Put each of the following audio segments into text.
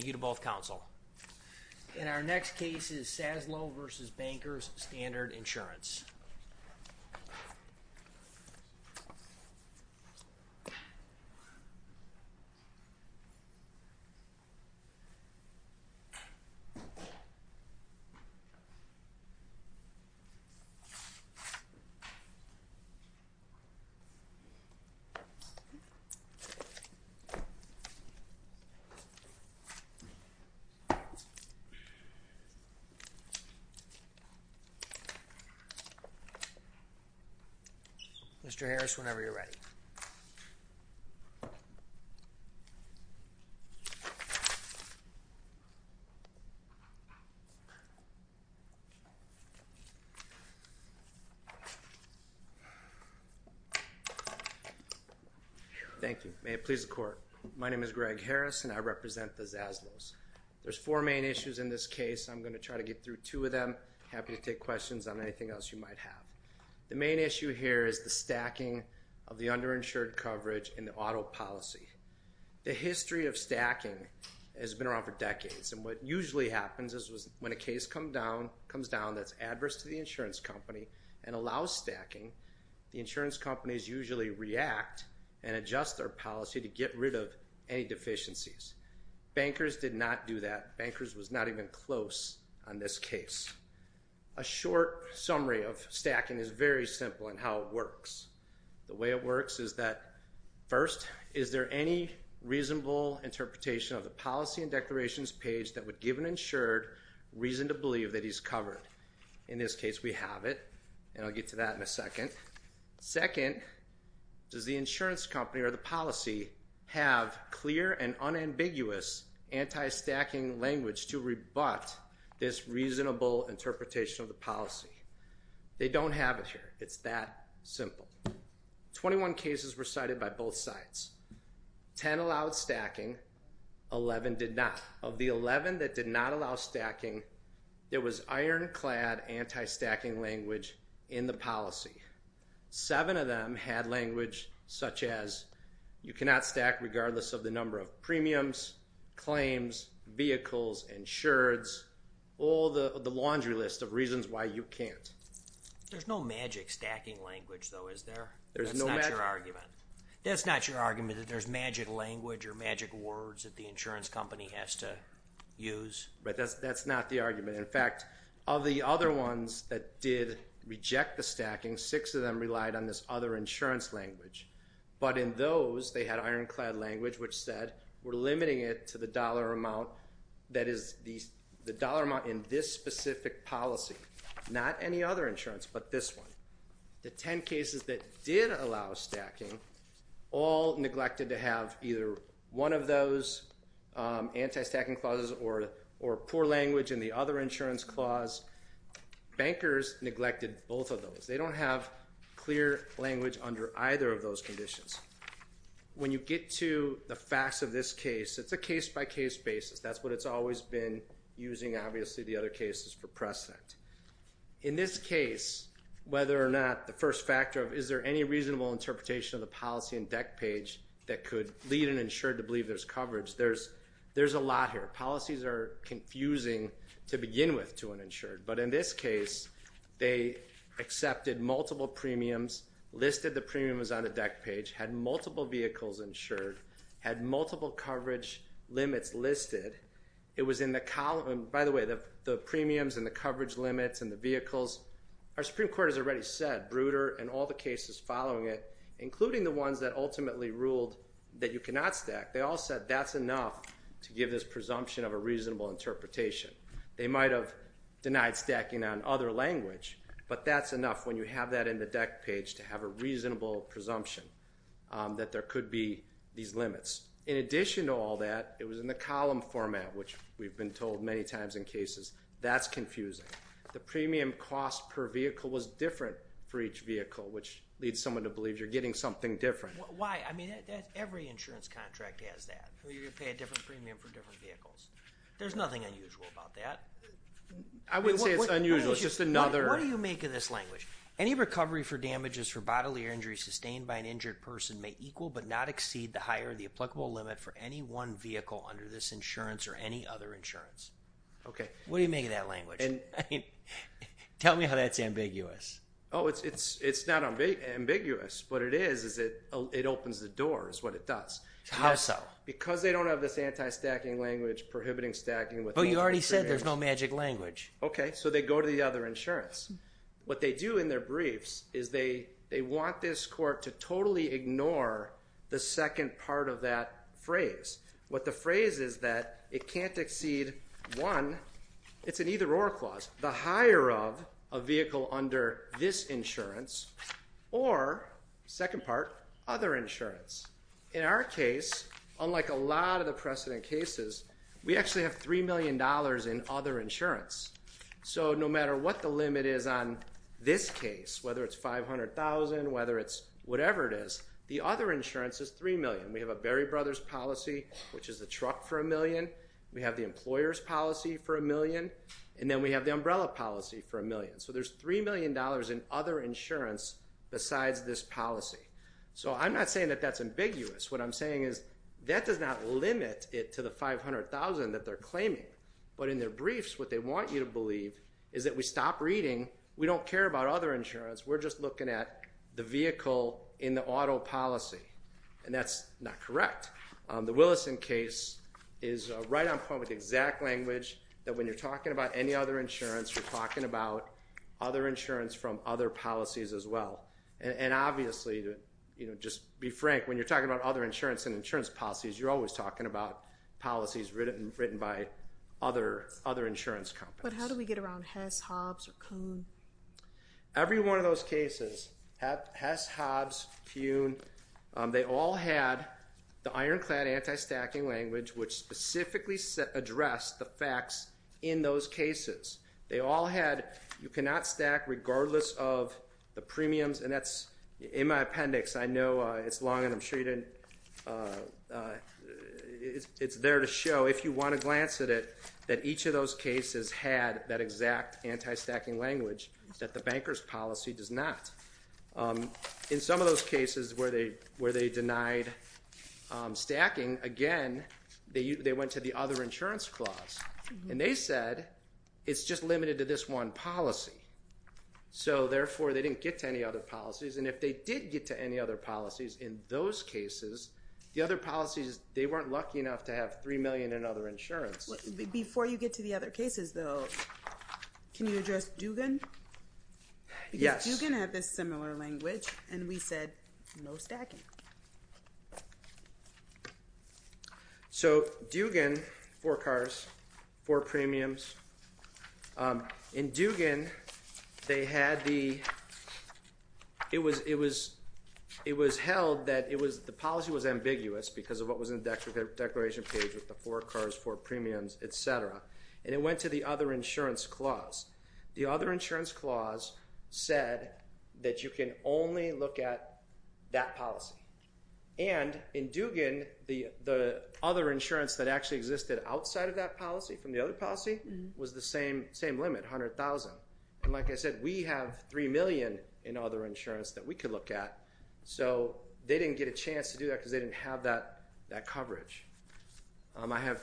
In our next case is Saslow v. Bankers Standard Insurance. Mr. Harris, whenever you're ready. Thank you. May it please the Court. My name is Greg Harris and I represent the Saslows. There's four main issues in this case. I'm going to try to get through two of them. I'm happy to take questions on anything else you might have. The main issue here is the stacking of the underinsured coverage in the auto policy. The history of stacking has been around for decades and what usually happens is when a case comes down that's adverse to the insurance company and allows stacking, the insurance companies usually react and adjust their policy to get rid of any deficiencies. Bankers did not do that. Bankers was not even close on this case. A short summary of stacking is very simple in how it works. The way it works is that, first, is there any reasonable interpretation of the policy and declarations page that would give an insured reason to believe that he's covered? In this case, we have it and I'll get to that in a second. Second, does the insurance company or the policy have clear and unambiguous anti-stacking language to rebut this reasonable interpretation of the policy? They don't have it here. It's that simple. Twenty-one cases were cited by both sides. Ten allowed stacking. Eleven did not. Of the eleven that did not allow stacking, there was ironclad anti-stacking language in the policy. Seven of them had language such as, you cannot stack regardless of the number of premiums, claims, vehicles, insureds, all the laundry list of reasons why you can't. There's no magic stacking language though, is there? There's no magic. That's not your argument. That's not your argument that there's magic language or magic words that the insurance company has to use. That's not the argument. In fact, of the other ones that did reject the stacking, six of them relied on this other insurance language. But in those, they had ironclad language which said, we're limiting it to the dollar amount that is the dollar amount in this specific policy, not any other insurance but this one. The ten cases that did allow stacking all neglected to have either one of those anti-stacking clauses or poor language in the other insurance clause, bankers neglected both of those. They don't have clear language under either of those conditions. When you get to the facts of this case, it's a case-by-case basis. That's what it's always been using, obviously, the other cases for precedent. In this case, whether or not the first factor of is there any reasonable interpretation of the policy and deck page that could lead an insured to believe there's coverage, there's a lot here. Policies are confusing to begin with to an insured. But in this case, they accepted multiple premiums, listed the premiums on the deck page, had multiple vehicles insured, had multiple coverage limits listed. It was in the column, by the way, the premiums and the coverage limits and the vehicles, our Supreme Court has already said, Bruder and all the cases following it, including the ones that ultimately ruled that you cannot stack, they all said that's enough to give this presumption of a reasonable interpretation. They might have denied stacking on other language, but that's enough when you have that in the deck page to have a reasonable presumption that there could be these limits. In addition to all that, it was in the column format, which we've been told many times in cases, that's confusing. The premium cost per vehicle was different for each vehicle, which leads someone to believe you're getting something different. Why? I mean, every insurance contract has that, where you're going to pay a different premium for different vehicles. There's nothing unusual about that. I wouldn't say it's unusual. It's just another- What do you make of this language? Any recovery for damages for bodily injury sustained by an injured person may equal but not exceed the higher, the applicable limit for any one vehicle under this insurance or any other insurance. Okay. What do you make of that language? Tell me how that's ambiguous. It's not ambiguous. What it is, is it opens the door, is what it does. How so? Because they don't have this anti-stacking language, prohibiting stacking with multiple But you already said there's no magic language. Okay. So they go to the other insurance. What they do in their briefs is they want this court to totally ignore the second part of that phrase. What the phrase is that it can't exceed one, it's an either or clause, the higher of a vehicle under this insurance or, second part, other insurance. In our case, unlike a lot of the precedent cases, we actually have $3 million in other insurance. So no matter what the limit is on this case, whether it's $500,000, whether it's whatever it is, the other insurance is $3 million. We have a Berry Brothers policy, which is the truck for a million. We have the employer's policy for a million. And then we have the umbrella policy for a million. So there's $3 million in other insurance besides this policy. So I'm not saying that that's ambiguous. What I'm saying is that does not limit it to the $500,000 that they're claiming. But in their briefs, what they want you to believe is that we stop reading. We don't care about other insurance. We're just looking at the vehicle in the auto policy. And that's not correct. The Willison case is right on point with the exact language that when you're talking about any other insurance, you're talking about other insurance from other policies as well. And obviously, just be frank, when you're talking about other insurance and insurance policies, you're always talking about policies written by other insurance companies. But how do we get around Hess, Hobbs, or Kuhn? Every one of those cases, Hess, Hobbs, Kuhn, they all had the ironclad anti-stacking language which specifically addressed the facts in those cases. They all had you cannot stack regardless of the premiums. And that's in my appendix. I know it's long and I'm sure it's there to show, if you want to glance at it, that each of those cases had that exact anti-stacking language that the banker's policy does not. In some of those cases where they denied stacking, again, they went to the other insurance clause. And they said, it's just limited to this one policy. So therefore, they didn't get to any other policies. And if they did get to any other policies in those cases, the other policies, they weren't lucky enough to have $3 million in other insurance. Before you get to the other cases though, can you address Dugan? Yes. Because Dugan had this similar language and we said, no stacking. So, Dugan, four cars, four premiums. In Dugan, they had the, it was held that it was, the policy was ambiguous because of what was in the declaration page with the four cars, four premiums, et cetera. And it went to the other insurance clause. The other insurance clause said that you can only look at that policy. And in Dugan, the other insurance that actually existed outside of that policy, from the other policy, was the same limit, $100,000. And like I said, we have $3 million in other insurance that we could look at. So they didn't get a chance to do that because they didn't have that coverage. I have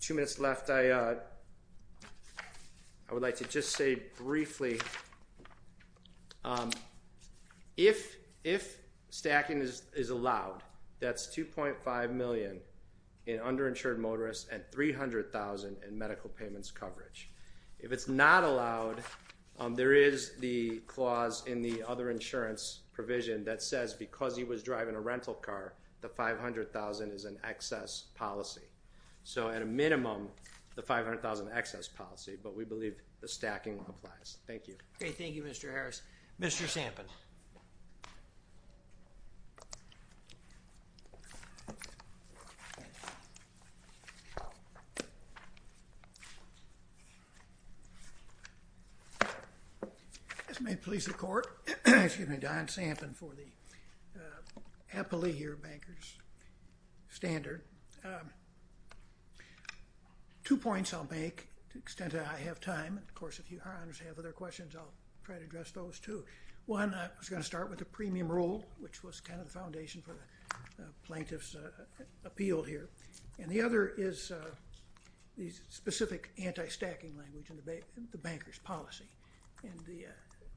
two minutes left. I would like to just say briefly, if stacking is allowed, that's $2.5 million in underinsured motorists and $300,000 in medical payments coverage. If it's not allowed, there is the clause in the other insurance provision that says because he was driving a rental car, the $500,000 is an excess policy. So at a minimum, the $500,000 excess policy, but we believe the stacking applies. Thank you. Okay. Thank you, Mr. Harris. Mr. Sampin. If this may please the court, excuse me, Don Sampin for the appellee here, Banker's Standard. Two points I'll make, to the extent that I have time, and of course, if you have other questions, I'll try to address those, too. One, I was going to start with the premium rule, which was kind of the foundation for the plaintiff's appeal here, and the other is the specific anti-stacking language in the banker's policy. And the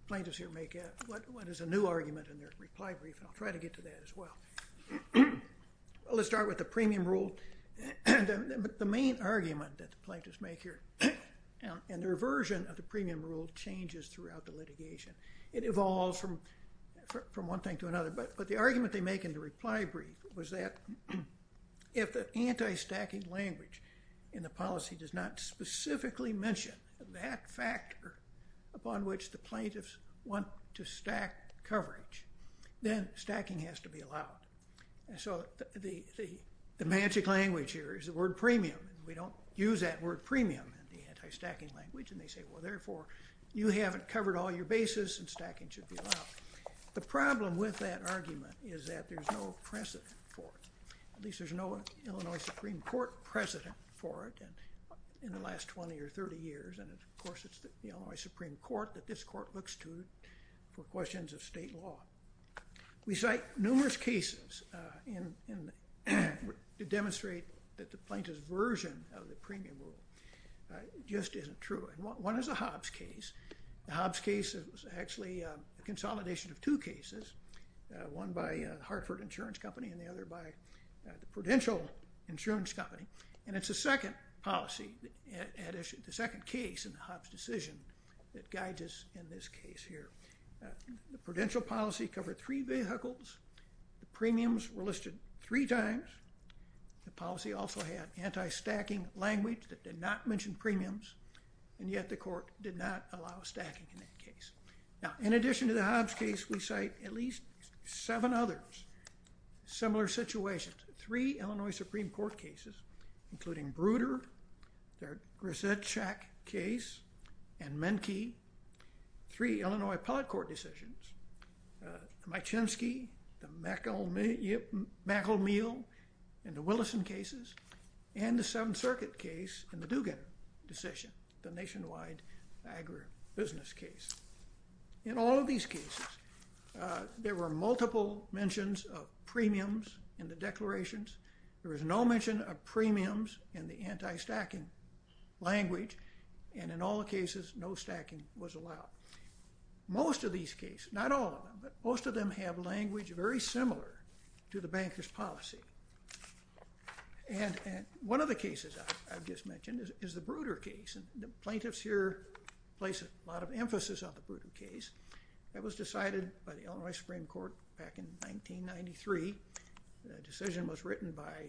plaintiffs here make what is a new argument in their reply brief, and I'll try to get to that as well. Let's start with the premium rule. The main argument that the plaintiffs make here in their version of the premium rule changes throughout the litigation. It evolves from one thing to another, but the argument they make in the reply brief was that if the anti-stacking language in the policy does not specifically mention that factor upon which the plaintiffs want to stack coverage, then stacking has to be allowed. So the magic language here is the word premium. We don't use that word premium in the anti-stacking language, and they say, well, therefore, you haven't covered all your bases, and stacking should be allowed. The problem with that argument is that there's no precedent for it. At least there's no Illinois Supreme Court precedent for it in the last 20 or 30 years, and of course, it's the Illinois Supreme Court that this court looks to for questions of state law. We cite numerous cases to demonstrate that the plaintiffs' version of the premium rule just isn't true. One is the Hobbs case. The Hobbs case is actually a consolidation of two cases, one by Hartford Insurance Company and the other by the Prudential Insurance Company. And it's the second policy at issue, the second case in the Hobbs decision that guides us in this case here. The Prudential policy covered three vehicles, the premiums were listed three times, the policy also had anti-stacking language that did not mention premiums, and yet the court did not allow stacking in that case. Now, in addition to the Hobbs case, we cite at least seven others, similar situations. Three Illinois Supreme Court cases, including Bruder, their Grzeszczak case, and Menke. Three Illinois Appellate Court decisions, Mychynski, the McElmeel, and the Willison cases, and the Seventh Circuit case in the Dugan decision, the nationwide agribusiness case. In all of these cases, there were multiple mentions of premiums in the declarations, there was no mention of premiums in the anti-stacking language, and in all the cases, no stacking was allowed. Most of these cases, not all of them, but most of them have language very similar to the banker's policy. And one of the cases I've just mentioned is the Bruder case, and the plaintiffs here place a lot of emphasis on the Bruder case. That was decided by the Illinois Supreme Court back in 1993. The decision was written by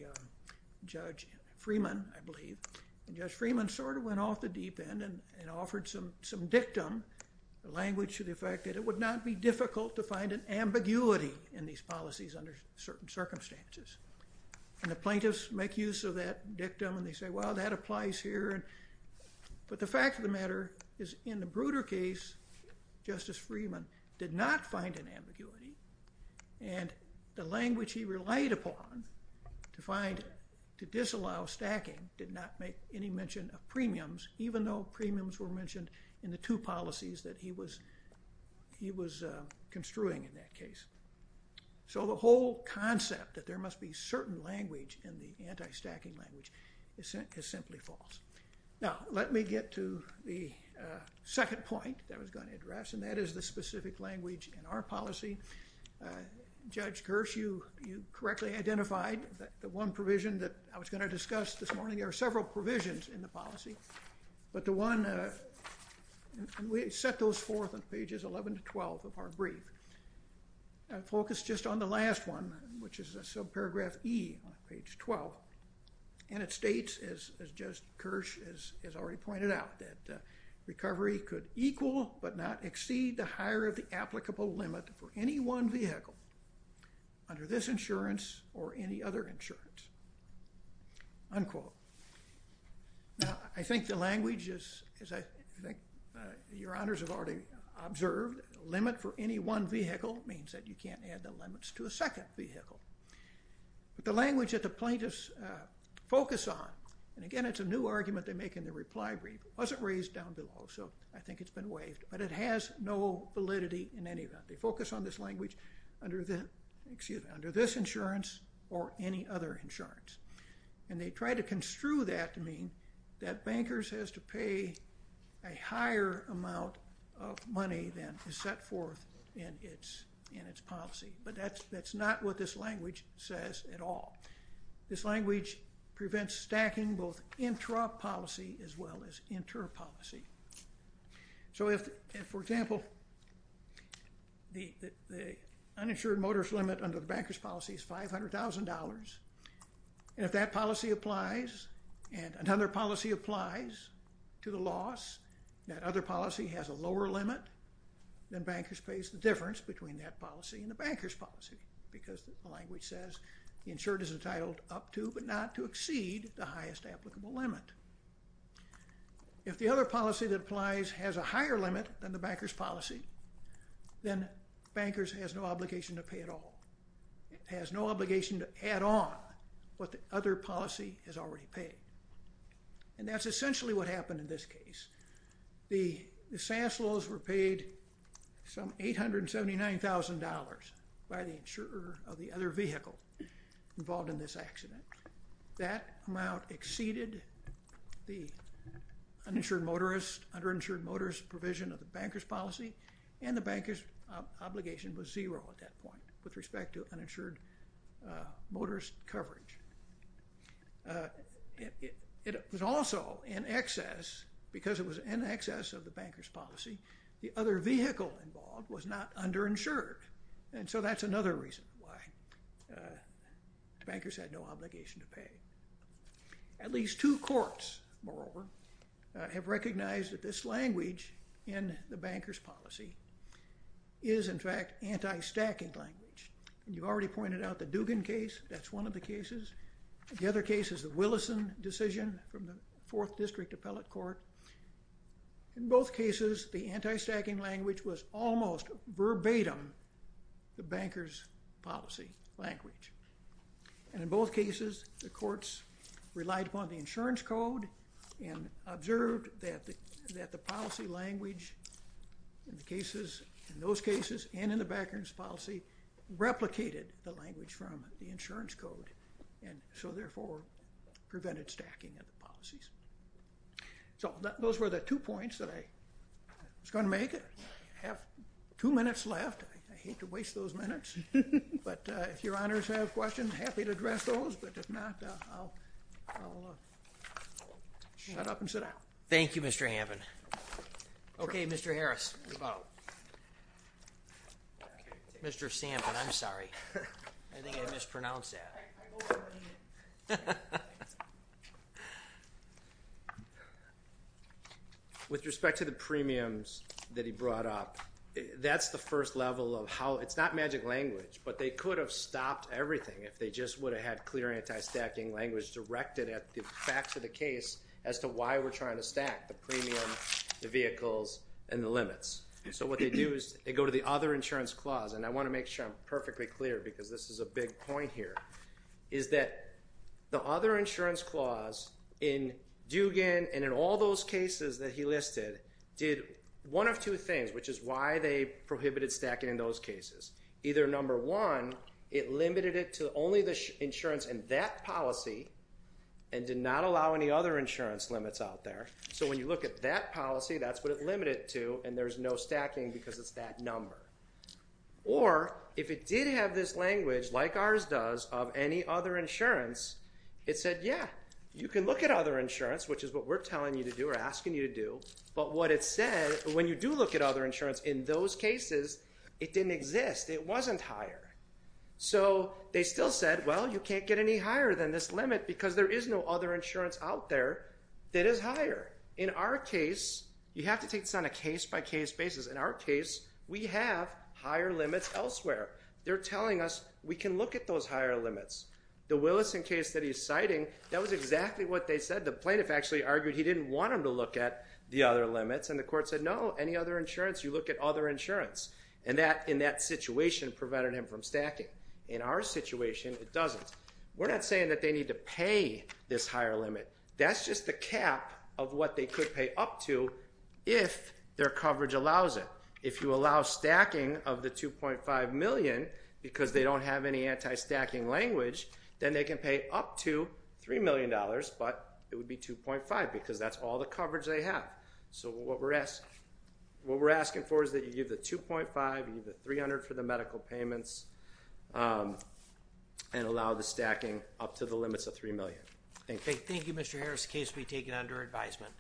Judge Freeman, I believe, and Judge Freeman sort of went off the deep end and offered some dictum, the language to the effect that it would not be difficult to find an ambiguity in these policies under certain circumstances. And the plaintiffs make use of that dictum, and they say, well, that applies here, but the fact of the matter is in the Bruder case, Justice Freeman did not find an ambiguity, and the language he relied upon to find, to disallow stacking, did not make any mention of premiums, even though premiums were mentioned in the two policies that he was construing in that case. So the whole concept that there must be certain language in the anti-stacking language is simply false. Now, let me get to the second point that I was going to address, and that is the specific language in our policy. Judge Kirsch, you correctly identified that the one provision that I was going to discuss this morning, there are several provisions in the policy, but the one, and we set those forth on pages 11 to 12 of our brief, focused just on the last one, which is subparagraph E on page 12, and it states, as Judge Kirsch has already pointed out, that recovery could equal but not exceed the higher of the applicable limit for any one vehicle under this insurance or any other insurance, unquote. Now, I think the language is, as I think your honors have already observed, a limit for any one vehicle means that you can't add the limits to a second vehicle, but the language that the plaintiffs focus on, and again, it's a new argument they make in their reply brief. It wasn't raised down below, so I think it's been waived, but it has no validity in any event. They focus on this language under this insurance or any other insurance, and they try to construe that to mean that bankers has to pay a higher amount of money than is set forth in its policy, but that's not what this language says at all. This language prevents stacking both intra-policy as well as inter-policy. So if, for example, the uninsured motorist limit under the bankers policy is $500,000, and if that policy applies and another policy applies to the loss, that other policy has a lower limit, then bankers pays the difference between that policy and the bankers policy because the language says the insured is entitled up to but not to exceed the highest applicable limit. If the other policy that applies has a higher limit than the bankers policy, then bankers has no obligation to pay at all. It has no obligation to add on what the other policy has already paid, and that's essentially what happened in this case. The SAS loans were paid some $879,000 by the insurer of the other vehicle involved in this accident. That amount exceeded the uninsured motorist, underinsured motorist provision of the bankers policy, and the bankers obligation was zero at that point with respect to uninsured motorist coverage. It was also in excess, because it was in excess of the bankers policy, the other vehicle involved was not underinsured, and so that's another reason why bankers had no obligation to pay. At least two courts, moreover, have recognized that this language in the bankers policy is in fact anti-stacking language, and you already pointed out the Dugan case, that's one of the cases. The other case is the Willison decision from the Fourth District Appellate Court. In both cases, the anti-stacking language was almost verbatim the bankers policy language, and in both cases, the courts relied upon the insurance code and observed that the policy language in the cases, in those cases, and in the bankers policy replicated the language from the insurance code, and so therefore, prevented stacking of the policies. So those were the two points that I was going to make, I have two minutes left, I hate to ask questions, happy to address those, but if not, I'll shut up and sit down. Thank you, Mr. Hamman. Okay, Mr. Harris. Mr. Sampson, I'm sorry, I think I mispronounced that. With respect to the premiums that he brought up, that's the first level of how, it's not magic language, but they could have stopped everything if they just would have had clear anti-stacking language directed at the facts of the case as to why we're trying to stack the premium, the vehicles, and the limits. So what they do is they go to the other insurance clause, and I want to make sure I'm perfectly clear because this is a big point here, is that the other insurance clause in Dugan and in all those cases that he listed, did one of two things, which is why they prohibited stacking in those cases. Either number one, it limited it to only the insurance in that policy and did not allow any other insurance limits out there. So when you look at that policy, that's what it limited it to, and there's no stacking because it's that number. Or if it did have this language, like ours does, of any other insurance, it said, yeah, you can look at other insurance, which is what we're telling you to do or asking you to do. But what it said, when you do look at other insurance in those cases, it didn't exist. It wasn't higher. So they still said, well, you can't get any higher than this limit because there is no other insurance out there that is higher. In our case, you have to take this on a case-by-case basis. In our case, we have higher limits elsewhere. They're telling us we can look at those higher limits. The Willison case that he's citing, that was exactly what they said. The plaintiff actually argued he didn't want him to look at the other limits, and the court said, no, any other insurance, you look at other insurance. And that, in that situation, prevented him from stacking. In our situation, it doesn't. We're not saying that they need to pay this higher limit. That's just the cap of what they could pay up to if their coverage allows it. If you allow stacking of the $2.5 million because they don't have any anti-stacking language, then they can pay up to $3 million, but it would be $2.5 because that's all the coverage they have. So what we're asking for is that you give the $2.5, you give the $300 for the medical payments, and allow the stacking up to the limits of $3 million. Thank you. Thank you, Mr. Harris. The case will be taken under advisement.